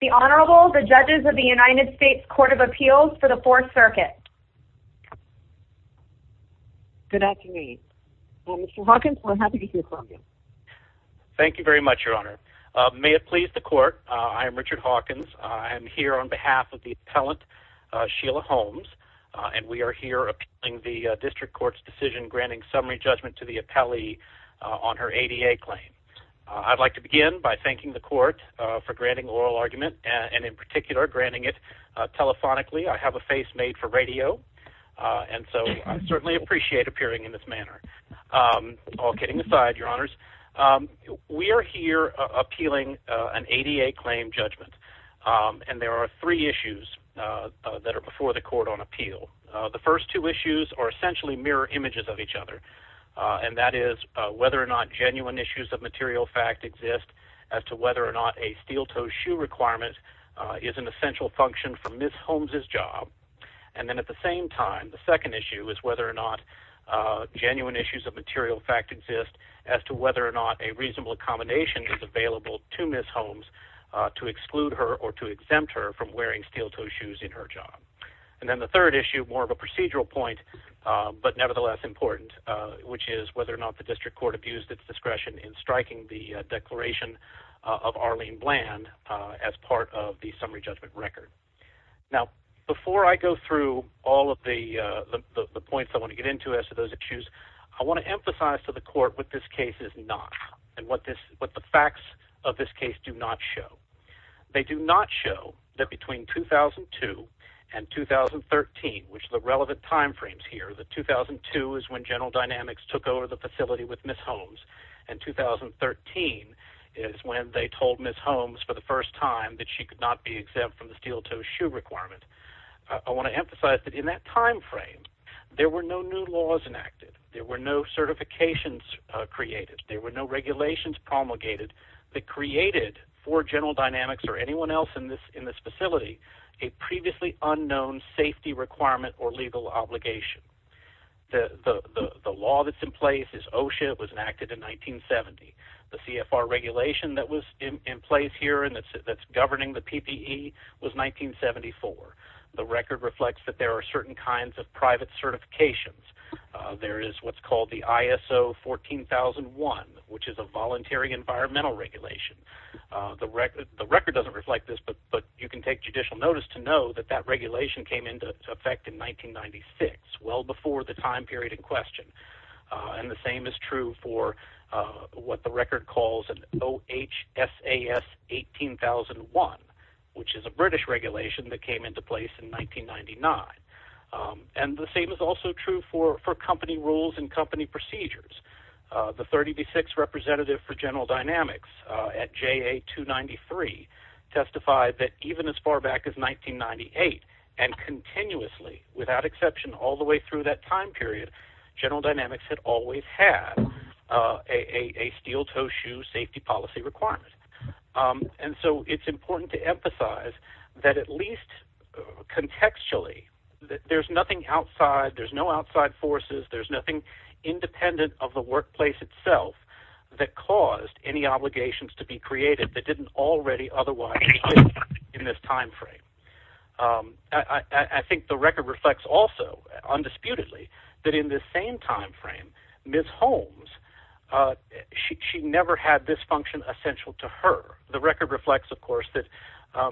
The Honorable the judges of the United States Court of Appeals for the Fourth Circuit. Good afternoon. Mr. Hawkins, we're happy to hear from you. Thank you very much Your Honor. May it please the court, I am Richard Hawkins. I'm here on behalf of the appellant Sheila Holmes and we are here appealing the district court's decision granting summary judgment to the appellee on her ADA claim. I'd like to begin by thanking the court for granting the oral argument and in particular granting it telephonically. I have a face made for radio and so I certainly appreciate appearing in this manner. All kidding aside, Your Honors, we are here appealing an ADA claim judgment and there are three issues that are before the court on appeal. The first two issues are essentially mirror images of material fact exist as to whether or not a steel-toed shoe requirement is an essential function for Ms. Holmes's job. And then at the same time the second issue is whether or not genuine issues of material fact exist as to whether or not a reasonable accommodation is available to Ms. Holmes to exclude her or to exempt her from wearing steel-toed shoes in her job. And then the third issue, more of a procedural point but nevertheless important, which is whether or not the district court abused its discretion in striking the declaration of Arlene Bland as part of the summary judgment record. Now before I go through all of the the points I want to get into as to those issues, I want to emphasize to the court what this case is not and what this what the facts of this case do not show. They do not show that between 2002 and 2013, which the relevant time frames here, the 2002 is when General Dynamics took over the facility with Ms. Holmes and 2013 is when they told Ms. Holmes for the first time that she could not be exempt from the steel-toed shoe requirement. I want to emphasize that in that time frame there were no new laws enacted, there were no certifications created, there were no regulations promulgated that created for General Dynamics or anyone else in this in this facility a previously unknown safety requirement or legal obligation. The law that's in place is OSHA, it was enacted in 1970. The CFR regulation that was in place here and that's governing the PPE was 1974. The record reflects that there are certain kinds of private certifications. There is what's called the ISO 14001, which is a voluntary environmental regulation. The record doesn't reflect this but you can take judicial notice to know that that regulation came into effect in 1996, well before the time period in question. And the same is true for what the record calls an OHSAS 18001, which is a British regulation that came into place in 1999. And the same is also true for for company rules and company procedures. The 36th representative for General Dynamics at JA 293 testified that even as far back as 1998 and continuously without exception all the way through that time period, General Dynamics had always had a steel-toe shoe safety policy requirement. And so it's important to emphasize that at least contextually that there's nothing outside, there's no outside forces, there's nothing independent of the workplace itself that caused any in this time frame. I think the record reflects also, undisputedly, that in this same time frame, Ms. Holmes, she never had this function essential to her. The record reflects of course that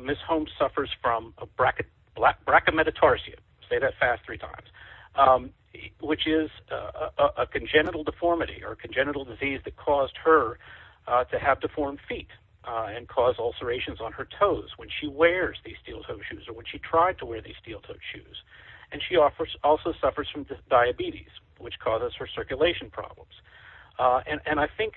Ms. Holmes suffers from a brachymetatarsia, say that fast three times, which is a congenital deformity or congenital disease that caused her to have deformed feet and cause ulcerations on her toes when she wears these steel-toed shoes or when she tried to wear these steel-toed shoes. And she offers also suffers from diabetes, which causes her circulation problems. And I think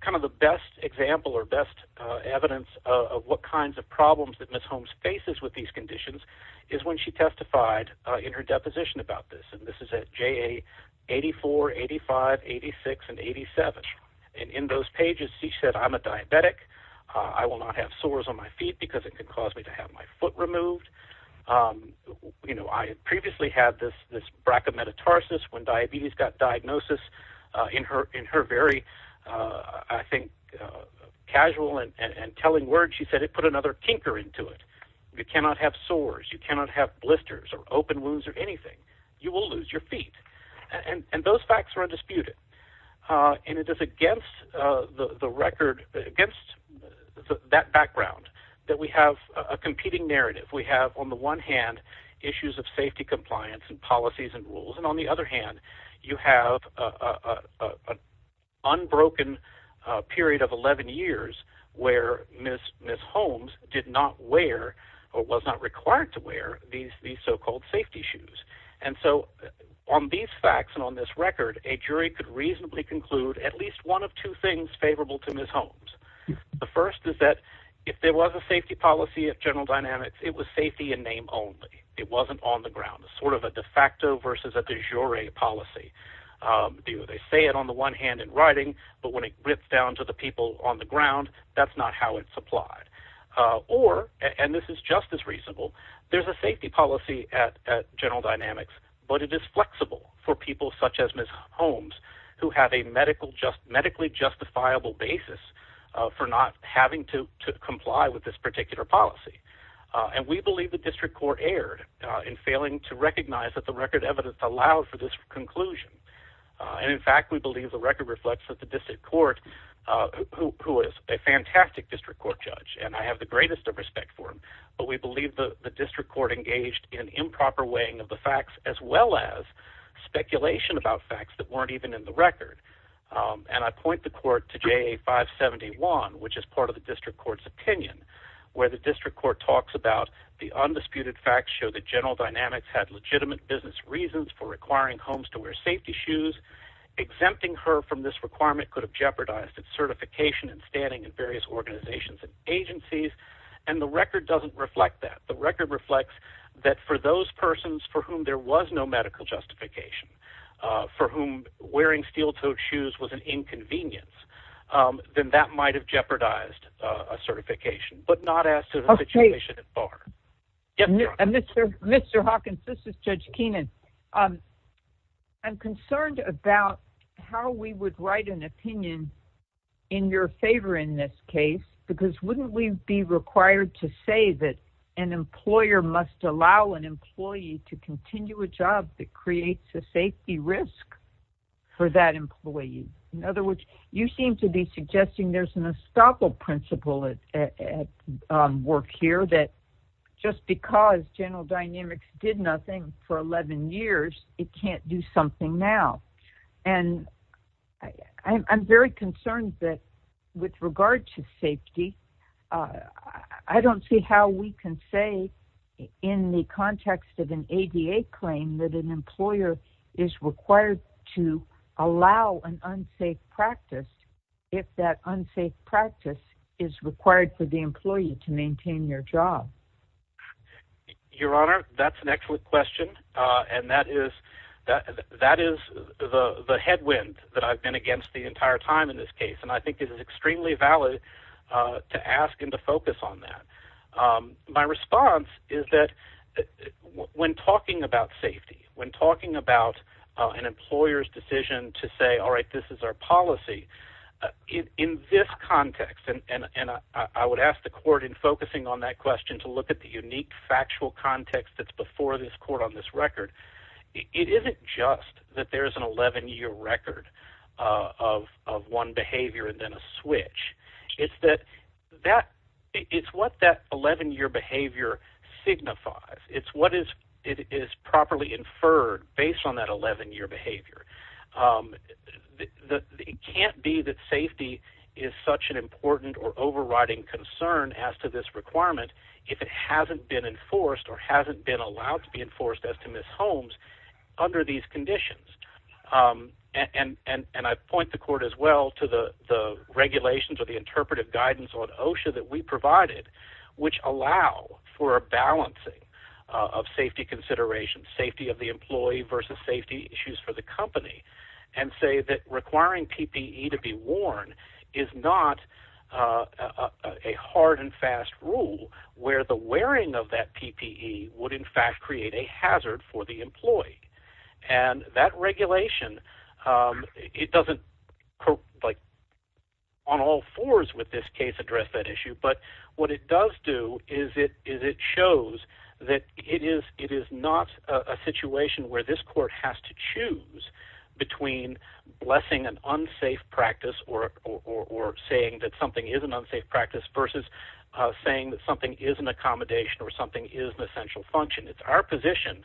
kind of the best example or best evidence of what kinds of problems that Ms. Holmes faces with these conditions is when she testified in her deposition about this. And this is at JA 84, 85, 86, and 87. And in those cases, it can cause me to have my foot removed. You know, I previously had this this brachymetatarsus when diabetes got diagnosis in her in her very, I think, casual and telling words. She said it put another tinker into it. You cannot have sores, you cannot have blisters or open wounds or anything. You will lose your feet. And those facts are undisputed. And it is against the record, against that background, that we have a competing narrative. We have, on the one hand, issues of safety compliance and policies and rules. And on the other hand, you have a unbroken period of 11 years where Ms. Holmes did not wear or was not required to wear these these so-called safety shoes. And so on these facts and on this record, a jury could reasonably conclude at least one of two things If there was a safety policy at General Dynamics, it was safety in name only. It wasn't on the ground, sort of a de facto versus a de jure policy. They say it on the one hand in writing, but when it rips down to the people on the ground, that's not how it's applied. Or, and this is just as reasonable, there's a safety policy at General Dynamics, but it is flexible for people such as Ms. Holmes, who have a medically justifiable basis for not having to comply with this particular policy. And we believe the district court erred in failing to recognize that the record evidence allowed for this conclusion. And in fact, we believe the record reflects that the district court, who is a fantastic district court judge, and I have the greatest of respect for him, but we believe the district court engaged in improper weighing of the facts as well as speculation about facts that um, and I point the court to J 5 71, which is part of the district court's opinion, where the district court talks about the undisputed facts show that General Dynamics had legitimate business reasons for requiring homes to wear safety shoes. Exempting her from this requirement could have jeopardized its certification and standing in various organizations and agencies. And the record doesn't reflect that the record reflects that for those persons for whom there was no medical justification for whom wearing steel toed shoes was an inconvenience, then that might have jeopardized a certification, but not as to the situation at bar. And Mr Mr Hawkins, this is Judge Keenan. Um, I'm concerned about how we would write an opinion in your favor in this case, because wouldn't we be required to say that an employer must allow an employee to continue a job that creates a safety risk for that employee? In other words, you seem to be suggesting there's an estoppel principle at work here that just because General Dynamics did nothing for 11 years, it can't do something now. And I'm very concerned that with regard to safety, uh, I don't see how we can say in the context of an 88 claim that an employer is required to allow an unsafe practice if that unsafe practice is required for the employee to maintain your job. Your Honor, that's an excellent question on that is that that is the headwind that I've been against the entire time in this case, and I think it is a focus on that. My response is that when talking about safety, when talking about an employer's decision to say, All right, this is our policy in this context, and I would ask the court in focusing on that question to look at the unique factual context that's before this court on this record. It isn't just that there is an 11 year record of of one behavior and then a switch. It's that that it's what that 11 year behavior signifies. It's what is it is properly inferred based on that 11 year behavior. Um, the it can't be that safety is such an important or overriding concern as to this requirement if it hasn't been enforced or hasn't been allowed to be enforced as to miss homes under these conditions. Um, and and and I point the court as well to the regulations or the interpretive guidance on OSHA that we provided, which allow for a balancing of safety considerations, safety of the employee versus safety issues for the company and say that requiring PPE to be worn is not, uh, a hard and fast rule where the wearing of that PPE would, in fact, create a hazard for the employee. And that regulation, um, it doesn't, like on all fours with this case, address that issue. But what it does do is it is it shows that it is it is not a situation where this court has to choose between blessing an unsafe practice or or saying that something is an unsafe practice versus saying that something is an accommodation or something is essential function. It's our position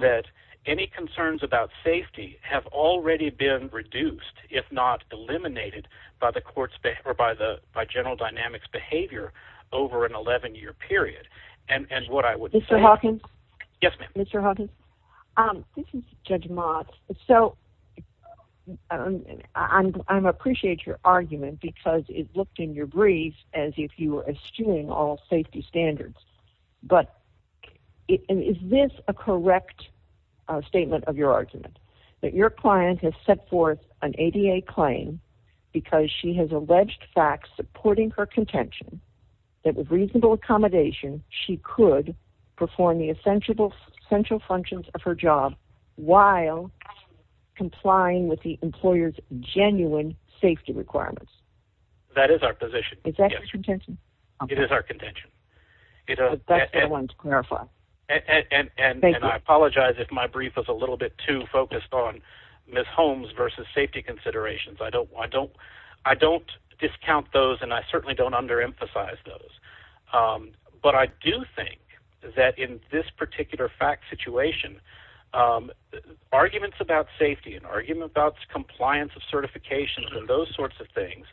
that any concerns about safety have already been reduced, if not eliminated by the courts or by the by general dynamics behavior over an 11 year period. And what I would say, Hawkins, Yes, Mr Hawkins. Um, this is Judge Mott. So, um, I'm I'm appreciate your argument because it looked in your brief as if you were assuming all safety standards. But is this a correct statement of your argument that your client has set forth an ADA claim because she has alleged facts supporting her contention that with reasonable accommodation, she could perform the essential essential functions of her job while complying with the employer's genuine safety requirements? That is our position. Is our contention. You know, that's the one to clarify. And I apologize if my brief was a little bit too focused on Miss Holmes versus safety considerations. I don't I don't I don't discount those, and I certainly don't under emphasize those. Um, but I do think that in this particular fact situation, um, arguments about safety and argument about compliance of certifications and those sorts of things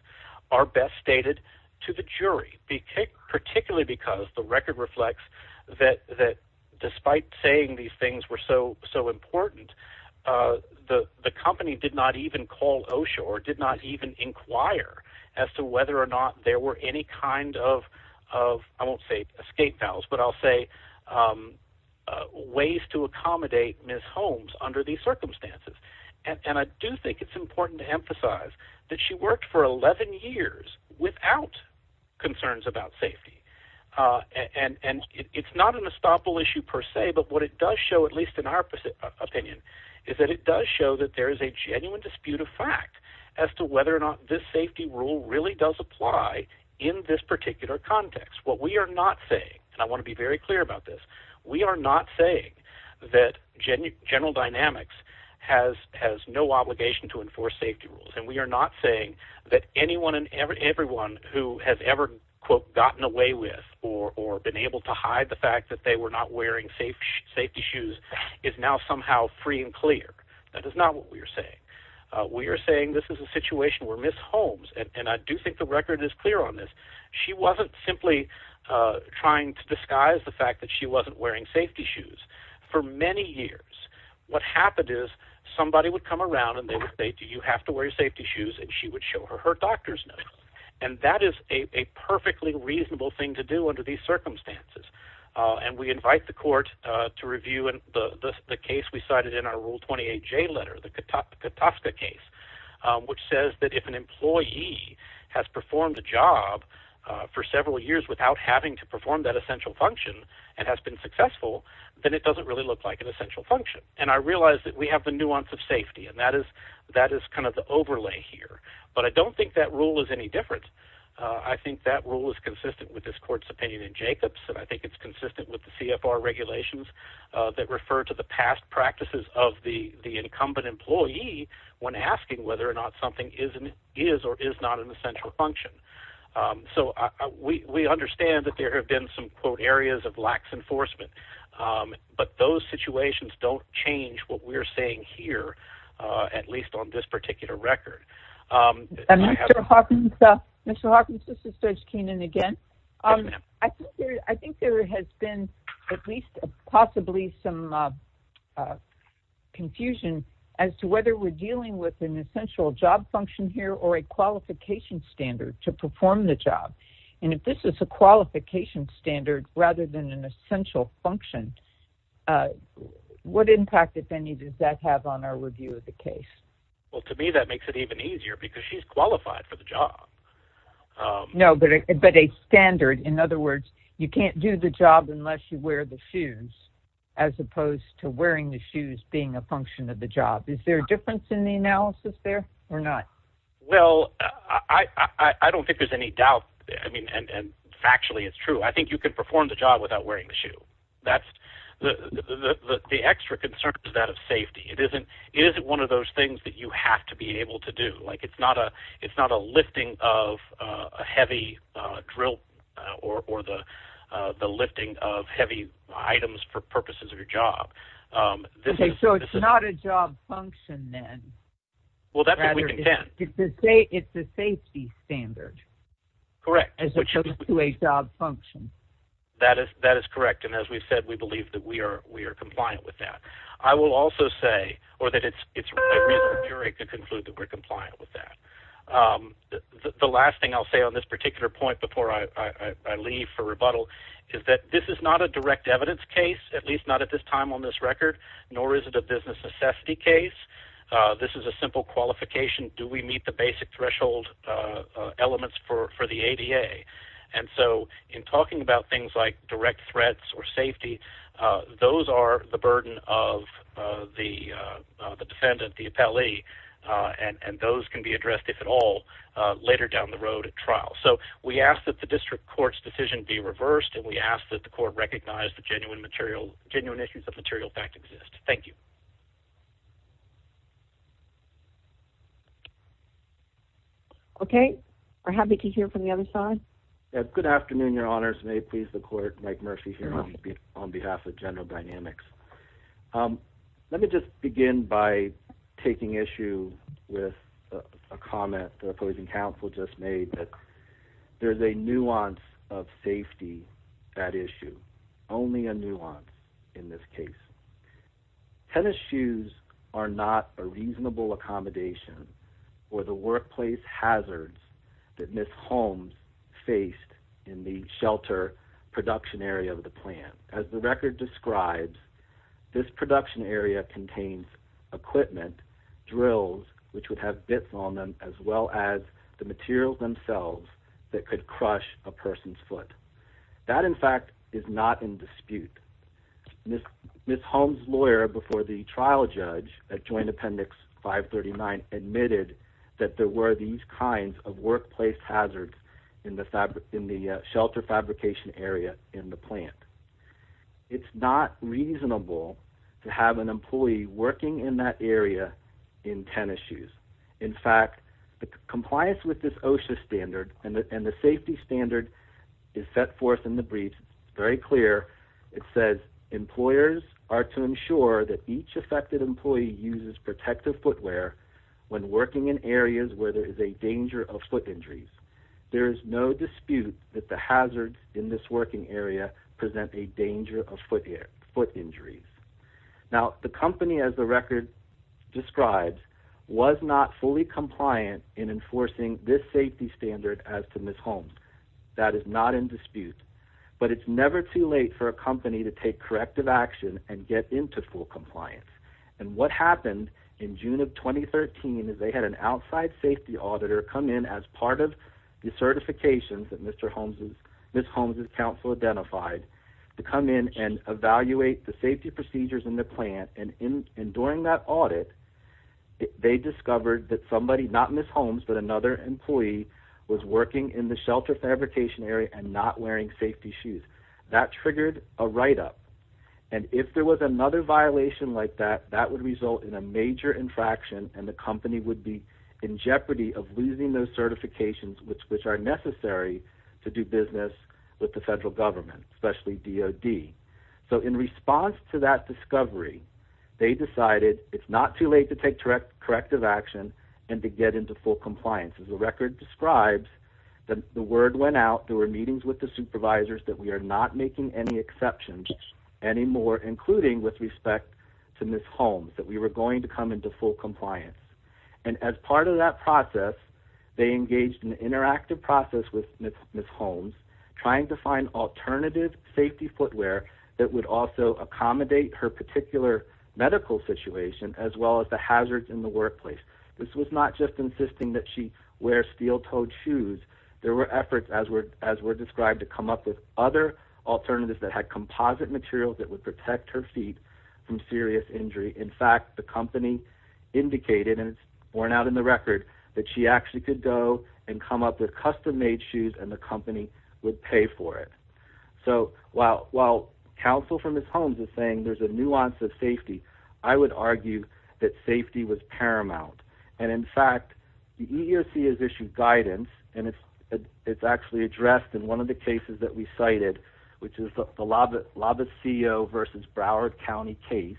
are best stated to the jury. Be particularly because the record reflects that that despite saying these things were so so important, uh, the company did not even call. Oh, sure, did not even inquire as to whether or not there were any kind of of I won't say escape valves, but I'll say, um, ways to accommodate Miss Holmes under these circumstances. And I do think it's important to emphasize that she worked for 11 years without concerns about safety. Uh, and it's not an estoppel issue per se. But what it does show, at least in our opinion, is that it does show that there is a genuine dispute of fact as to whether or not this safety rule really does apply in this particular context. What we are not saying, and I want to be very clear about this. We are not saying that general dynamics has has no obligation to enforce safety rules, and we are not saying that anyone and everyone who has ever quote gotten away with or or been able to hide the fact that they were not wearing safe safety shoes is now somehow free and clear. That is not what we're saying. We're saying this is a situation where Miss Holmes and I do think the record is clear on this. She wasn't simply trying to disguise the fact that she wasn't wearing safety shoes for many years. What happened is somebody would come around and they would say, Do you have to wear your safety shoes? And she would show her her doctor's note. And that is a perfectly reasonable thing to do under these circumstances. And we invite the court to review and the case we cited in our rule 28 J letter, the Topka Tosca case, which says that if an employee has performed a job for several years without having to perform that essential function and has been successful, then it doesn't really look like an essential function. And I realized that we have the nuance of that is kind of the overlay here. But I don't think that rule is any difference. I think that rule is consistent with this court's opinion in Jacobs, and I think it's consistent with the CFR regulations that refer to the past practices of the incumbent employee when asking whether or not something is an is or is not an essential function. So we understand that there have been some quote areas of lax enforcement, but those at least on this particular record, um, Mr Hawkins, Mr Hawkins, this is Judge Keenan again. Um, I think there has been at least possibly some, uh, confusion as to whether we're dealing with an essential job function here or a qualification standard to perform the job. And if this is a qualification standard rather than an essential function, uh, what impact, if any, does that have on our review of the case? Well, to me, that makes it even easier because she's qualified for the job. No, but a standard. In other words, you can't do the job unless you wear the shoes as opposed to wearing the shoes being a function of the job. Is there a difference in the analysis there or not? Well, I don't think there's any doubt. I mean, and factually, it's true. I think you could perform the job without wearing the shoe. That's the the extra concern is that of safety. It isn't. It isn't one of those things that you have to be able to do. Like, it's not a it's not a lifting of a heavy drill or or the lifting of heavy items for purposes of your job. Um, this is so it's not a job function, then. Well, that's what we can say. It's the safety standard. Correct. As opposed to a job function. That is. That is compliant with that. I will also say or that it's it's very good. Conclude that we're compliant with that. Um, the last thing I'll say on this particular point before I leave for rebuttal is that this is not a direct evidence case, at least not at this time on this record, nor is it a business necessity case. This is a simple qualification. Do we meet the basic threshold elements for the A. D. A. And so in talking about things like direct threats or safety, those are the burden of the defendant, the appellee on. And those can be addressed, if at all, later down the road at trial. So we ask that the district court's decision be reversed. And we ask that the court recognized the genuine material genuine issues of material fact exist. Thank you. Okay. We're happy to hear from the other side. Good afternoon, Your on behalf of General Dynamics. Um, let me just begin by taking issue with a comment. The opposing counsel just made that there's a nuance of safety. That issue only a nuance in this case. Tennis shoes are not a reasonable accommodation for the workplace hazards that Miss Holmes faced in the shelter production area of the plant. As the record describes, this production area contains equipment drills which would have bits on them as well as the materials themselves that could crush a person's foot. That, in fact, is not in dispute. Miss Miss Holmes, lawyer before the trial judge that joined Appendix 5 39 admitted that there were these kinds of workplace hazards in the fabric in the shelter fabrication area in the plant. It's not reasonable to have an employee working in that area in tennis shoes. In fact, the compliance with this OSHA standard and the safety standard is set forth in the brief very clear. It says employers are to ensure that each affected employee uses protective footwear when working in the danger of foot injuries. There is no dispute that the hazards in this working area present a danger of foot foot injuries. Now, the company, as the record describes, was not fully compliant in enforcing this safety standard as to Miss Holmes. That is not in dispute, but it's never too late for a company to take corrective action and get into full compliance. And what happened in June of 2013 is they had an outside safety auditor come in as part of the certifications that Mr. Holmes, Miss Holmes' counsel identified to come in and evaluate the safety procedures in the plant and in during that audit they discovered that somebody, not Miss Holmes, but another employee was working in the shelter fabrication area and not wearing safety shoes. That triggered a write-up and if there was another violation like that, that would result in a major infraction and the company would be in jeopardy of losing those certifications which are necessary to do business with the federal government, especially DOD. So in response to that discovery, they decided it's not too late to take corrective action and to get into full compliance. As the record describes, the word went out, there were meetings with the supervisors that we are not making any exceptions anymore, including with respect to Miss Holmes, that we were going to come into full compliance. And as part of that process, they engaged in an interactive process with Miss Holmes, trying to find alternative safety footwear that would also accommodate her particular medical situation as well as the hazards in the workplace. This was not just insisting that she wear steel-toed shoes, there were efforts as were as were described to come up with other alternatives that had composite materials that would protect her feet from serious injury. In fact, the company indicated, and it's borne out in the record, that she actually could go and come up with custom-made shoes and the company would pay for it. So while counsel from Miss Holmes is saying there's a nuance of safety, I would argue that safety was paramount. And in fact, the EEOC has issued guidance and it's actually addressed in one of the cases that we cited, which is the Laviseo versus Broward County case,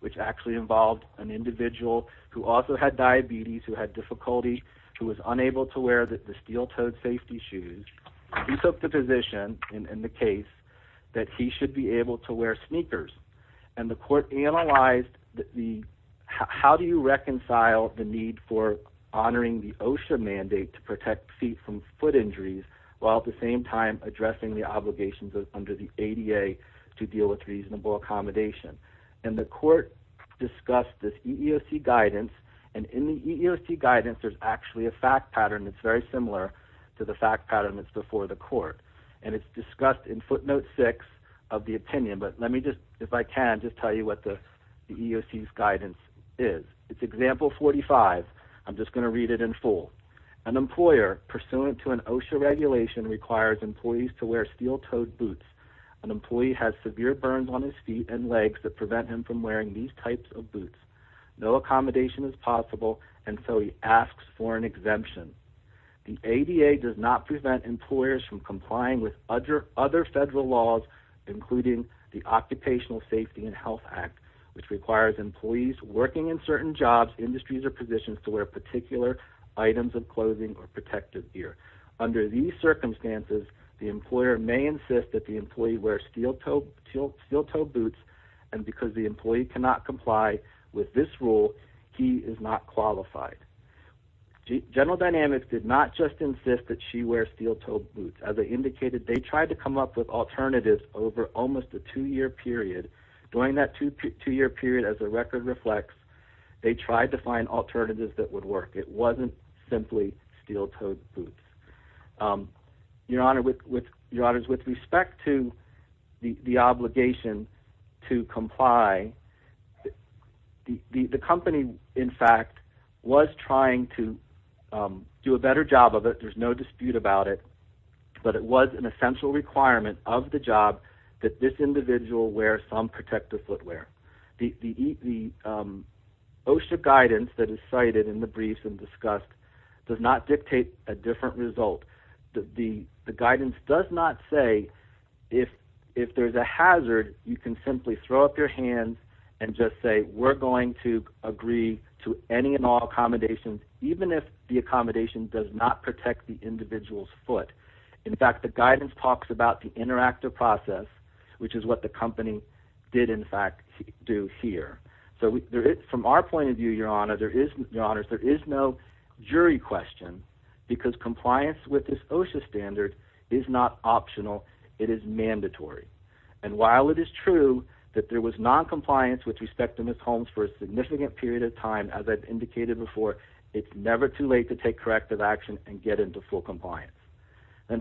which actually involved an individual who also had diabetes, who had difficulty, who was unable to wear the steel-toed safety shoes. He took the position in the case that he should be able to wear sneakers and the court analyzed the how do you reconcile the need for honoring the OSHA mandate to protect feet from foot injuries, while at the same time addressing the obligations under the ADA to deal with reasonable accommodation. And the court discussed this EEOC guidance and in the EEOC guidance there's actually a fact pattern that's very similar to the fact pattern that's before the court. And it's discussed in footnote 6 of the opinion, but let me just, if I can, just tell you what the EEOC's guidance is. It's example 45. I'm just going to read it in full. An employer pursuant to an OSHA regulation requires employees to wear steel-toed boots. An employee has severe burns on his feet and legs that prevent him from wearing these types of boots. No accommodation is possible and so he asks for an exemption. The ADA does not prevent employers from complying with other other federal laws, including the Occupational Safety and Health Act, which requires employees working in certain jobs, industries, or positions to wear particular items of clothing or protective gear. Under these circumstances, the employer may insist that the employee wear steel-toed boots and because the employee cannot comply with this rule, he is not qualified. General Dynamics did not just insist that she wear steel-toed boots. As I indicated, they tried to come up with alternatives over almost a two-year period. During that two-year period, as the tried to find alternatives that would work. It wasn't simply steel-toed boots. Your Honor, with respect to the obligation to comply, the company, in fact, was trying to do a better job of it. There's no dispute about it, but it was an essential requirement of the job that this guidance that is cited in the briefs and discussed does not dictate a different result. The guidance does not say if there's a hazard, you can simply throw up your hands and just say we're going to agree to any and all accommodations, even if the accommodation does not protect the individual's foot. In fact, the guidance talks about the interactive process, which is what the company did, in fact, do here. From our point of view, Your Honor, there is no jury question because compliance with this OSHA standard is not optional. It is mandatory. While it is true that there was non-compliance with respect to Ms. Holmes for a significant period of time, as I've indicated before, it's never too late to take corrective action and get into full compliance.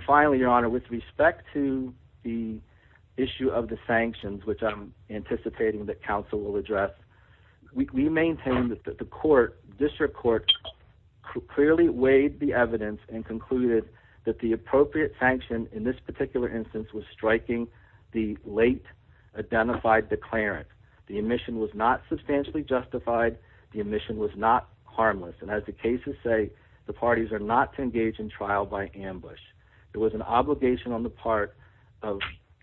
Finally, Your Honor, with respect to the issue of the sanctions, which I'm anticipating that counsel will address, we maintain that the court, district court, clearly weighed the evidence and concluded that the appropriate sanction in this particular instance was striking the late identified declarant. The omission was not substantially justified. The omission was not harmless, and as the cases say, the parties are not to engage in trial by ambush. There was an obligation on the part of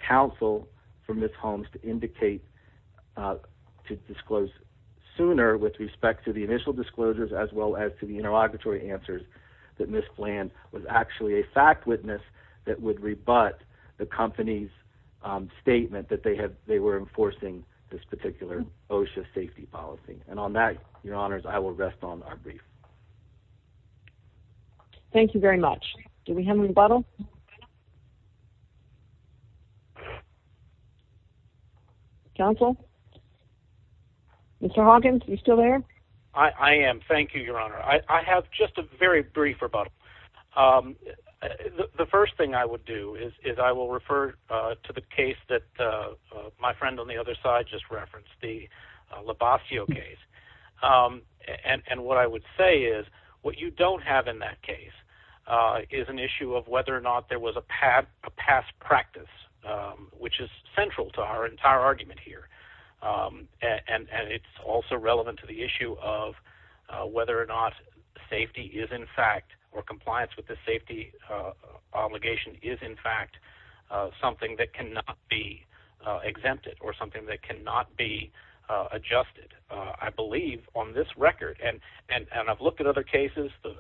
counsel for Ms. Holmes to indicate to disclose sooner with respect to the initial disclosures as well as to the interrogatory answers that Ms. Bland was actually a fact witness that would rebut the company's statement that they were enforcing this particular OSHA safety policy. And on that, Your Honors, I will rest on our brief. Thank you very much. Do we have a rebuttal? Counsel? Mr Hawkins, you still there? I am. Thank you, Your Honor. I have just a very brief rebuttal. Um, the first thing I would do is I will refer to the case that my friend on the other side just referenced the Lubascio case. Um, and what I would say is what you don't have in that case, uh, is an issue of whether or not there was a pad, a past practice, which is central to our entire argument here. Um, and and it's also relevant to the issue of whether or not safety is, in fact, or compliance with the safety obligation is, in fact, something that cannot be exempted or something that cannot be adjusted. I and I've looked at other cases. The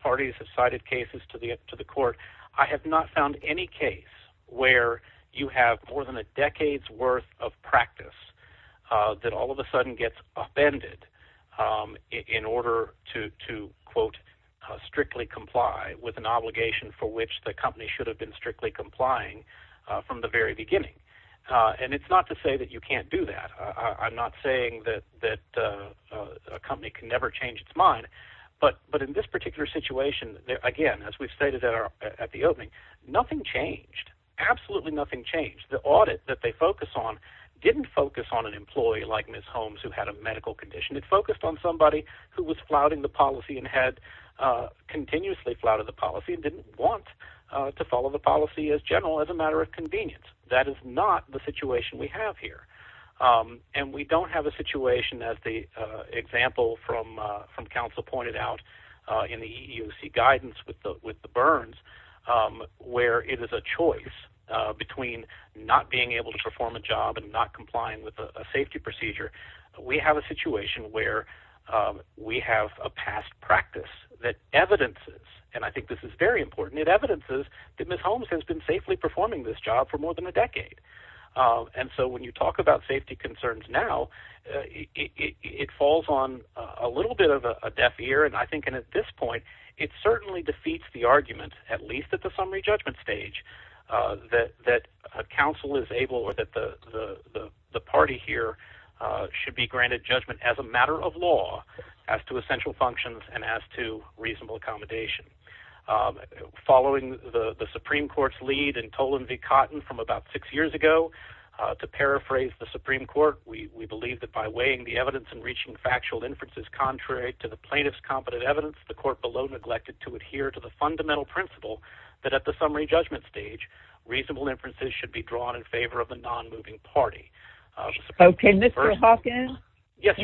parties have cited cases to the to the court. I have not found any case where you have more than a decade's worth of practice, uh, that all of a sudden gets upended, um, in order to to, quote, strictly comply with an obligation for which the company should have been strictly complying from the very beginning. Uh, and it's not to say that you can't do that. I'm not saying that that, uh, a company can never change its mind. But But in this particular situation again, as we've stated that are at the opening, nothing changed. Absolutely nothing changed. The audit that they focus on didn't focus on an employee like Miss Holmes, who had a medical condition. It focused on somebody who was flouting the policy and had, uh, continuously flooded the policy and didn't want to follow the policy as general as a matter of convenience. That is not the situation we have here. Um, and we don't have a situation that the example from from counsel pointed out in the EUC guidance with with the burns, um, where it is a choice between not being able to perform a job and not complying with a safety procedure. We have a situation where we have a past practice that evidences and I think this is very important. It evidences that Miss Holmes has been safely performing this job for more than a decade. And so when you talk about safety concerns now, it falls on a little bit of a deaf ear. And I think and at this point, it certainly defeats the argument, at least at the summary judgment stage, uh, that that council is able or that the party here should be granted judgment as a matter of law as to essential functions and as to Supreme Court's lead and told him the cotton from about six years ago to paraphrase the Supreme Court. We believe that by weighing the evidence and reaching factual inferences contrary to the plaintiff's competent evidence, the court below neglected to adhere to the fundamental principle that at the summary judgment stage, reasonable inferences should be drawn in favor of the non moving party. Okay, Mr Hawkins. Yes,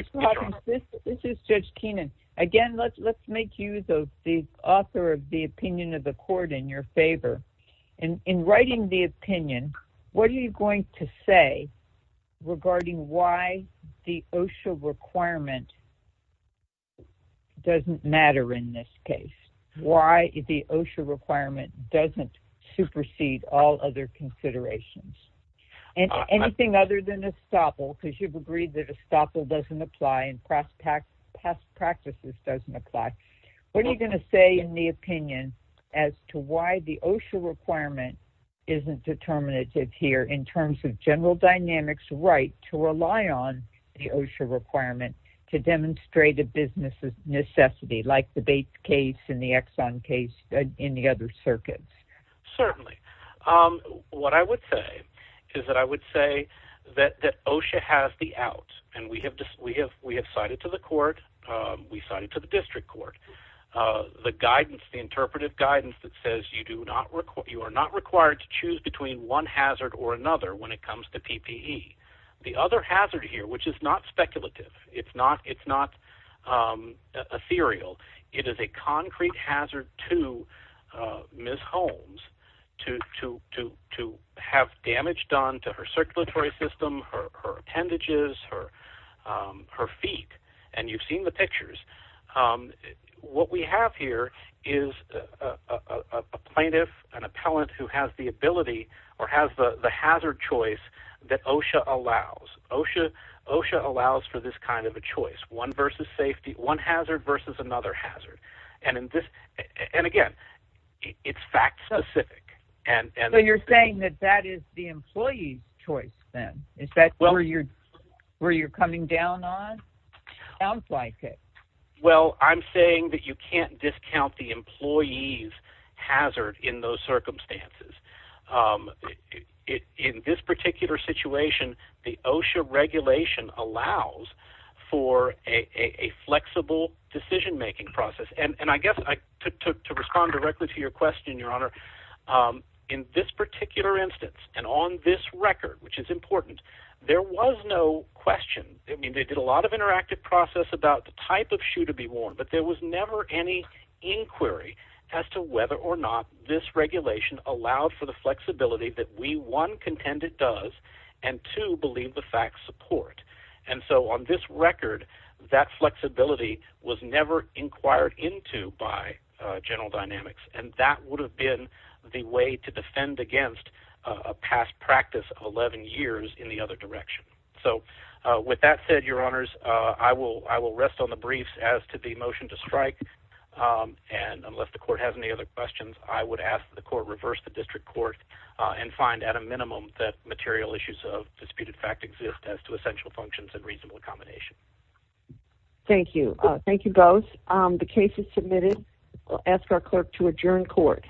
this is Judge Keenan again. Let's make use of the author of the opinion of the court in your favor. And in writing the opinion, what are you going to say regarding why the OSHA requirement doesn't matter in this case? Why the OSHA requirement doesn't supersede all other considerations and anything other than a stopple because you've agreed that a stopple doesn't apply and press pack past practices doesn't apply. What are you going to say in the opinion as to why the OSHA requirement isn't determinative here in terms of general dynamics right to rely on the OSHA requirement to demonstrate a business necessity like the bait case in the Exxon case in the other circuits? Certainly. Um, what I would say is that I would say that that OSHA has the out and we have just we have we have cited it to the court. We cited to the district court. Uh, the guidance, the interpretive guidance that says you do not, you are not required to choose between one hazard or another when it comes to PPE. The other hazard here, which is not speculative, it's not, it's not, um, ethereal. It is a concrete hazard to, uh, Miss Holmes to, to, to, to have damage done to her circulatory system, her, her appendages, her, um, her feet. And you've seen the pictures. Um, what we have here is a plaintiff, an appellant who has the ability or has the hazard choice that OSHA allows. OSHA, OSHA allows for this kind of a choice, one versus safety, one hazard versus another hazard. And in this, and again, it's fact specific. And, and you're saying that that is the choice. Then is that where you're, where you're coming down on? Sounds like it. Well, I'm saying that you can't discount the employees hazard in those circumstances. Um, in this particular situation, the OSHA regulation allows for a flexible decision making process. And I guess I took to respond directly to your question, your honor. Um, in this particular instance and on this record, which is important, there was no question. I mean, they did a lot of interactive process about the type of shoe to be worn, but there was never any inquiry as to whether or not this regulation allowed for the flexibility that we one contend it does and to believe the facts support. And so on this record, that flexibility was never inquired into by, uh, general dynamics. And that would have been the way to defend against a past practice of 11 years in the other direction. So, uh, with that said, your honors, uh, I will, I will rest on the briefs as to the motion to strike. Um, and unless the court has any other questions, I would ask the court, reverse the district court, uh, and find at a minimum that material issues of disputed fact exist as to essential functions and reasonable accommodation. Thank you. Thank you both. Um, the case is submitted. I'll ask our clerk to adjourn court.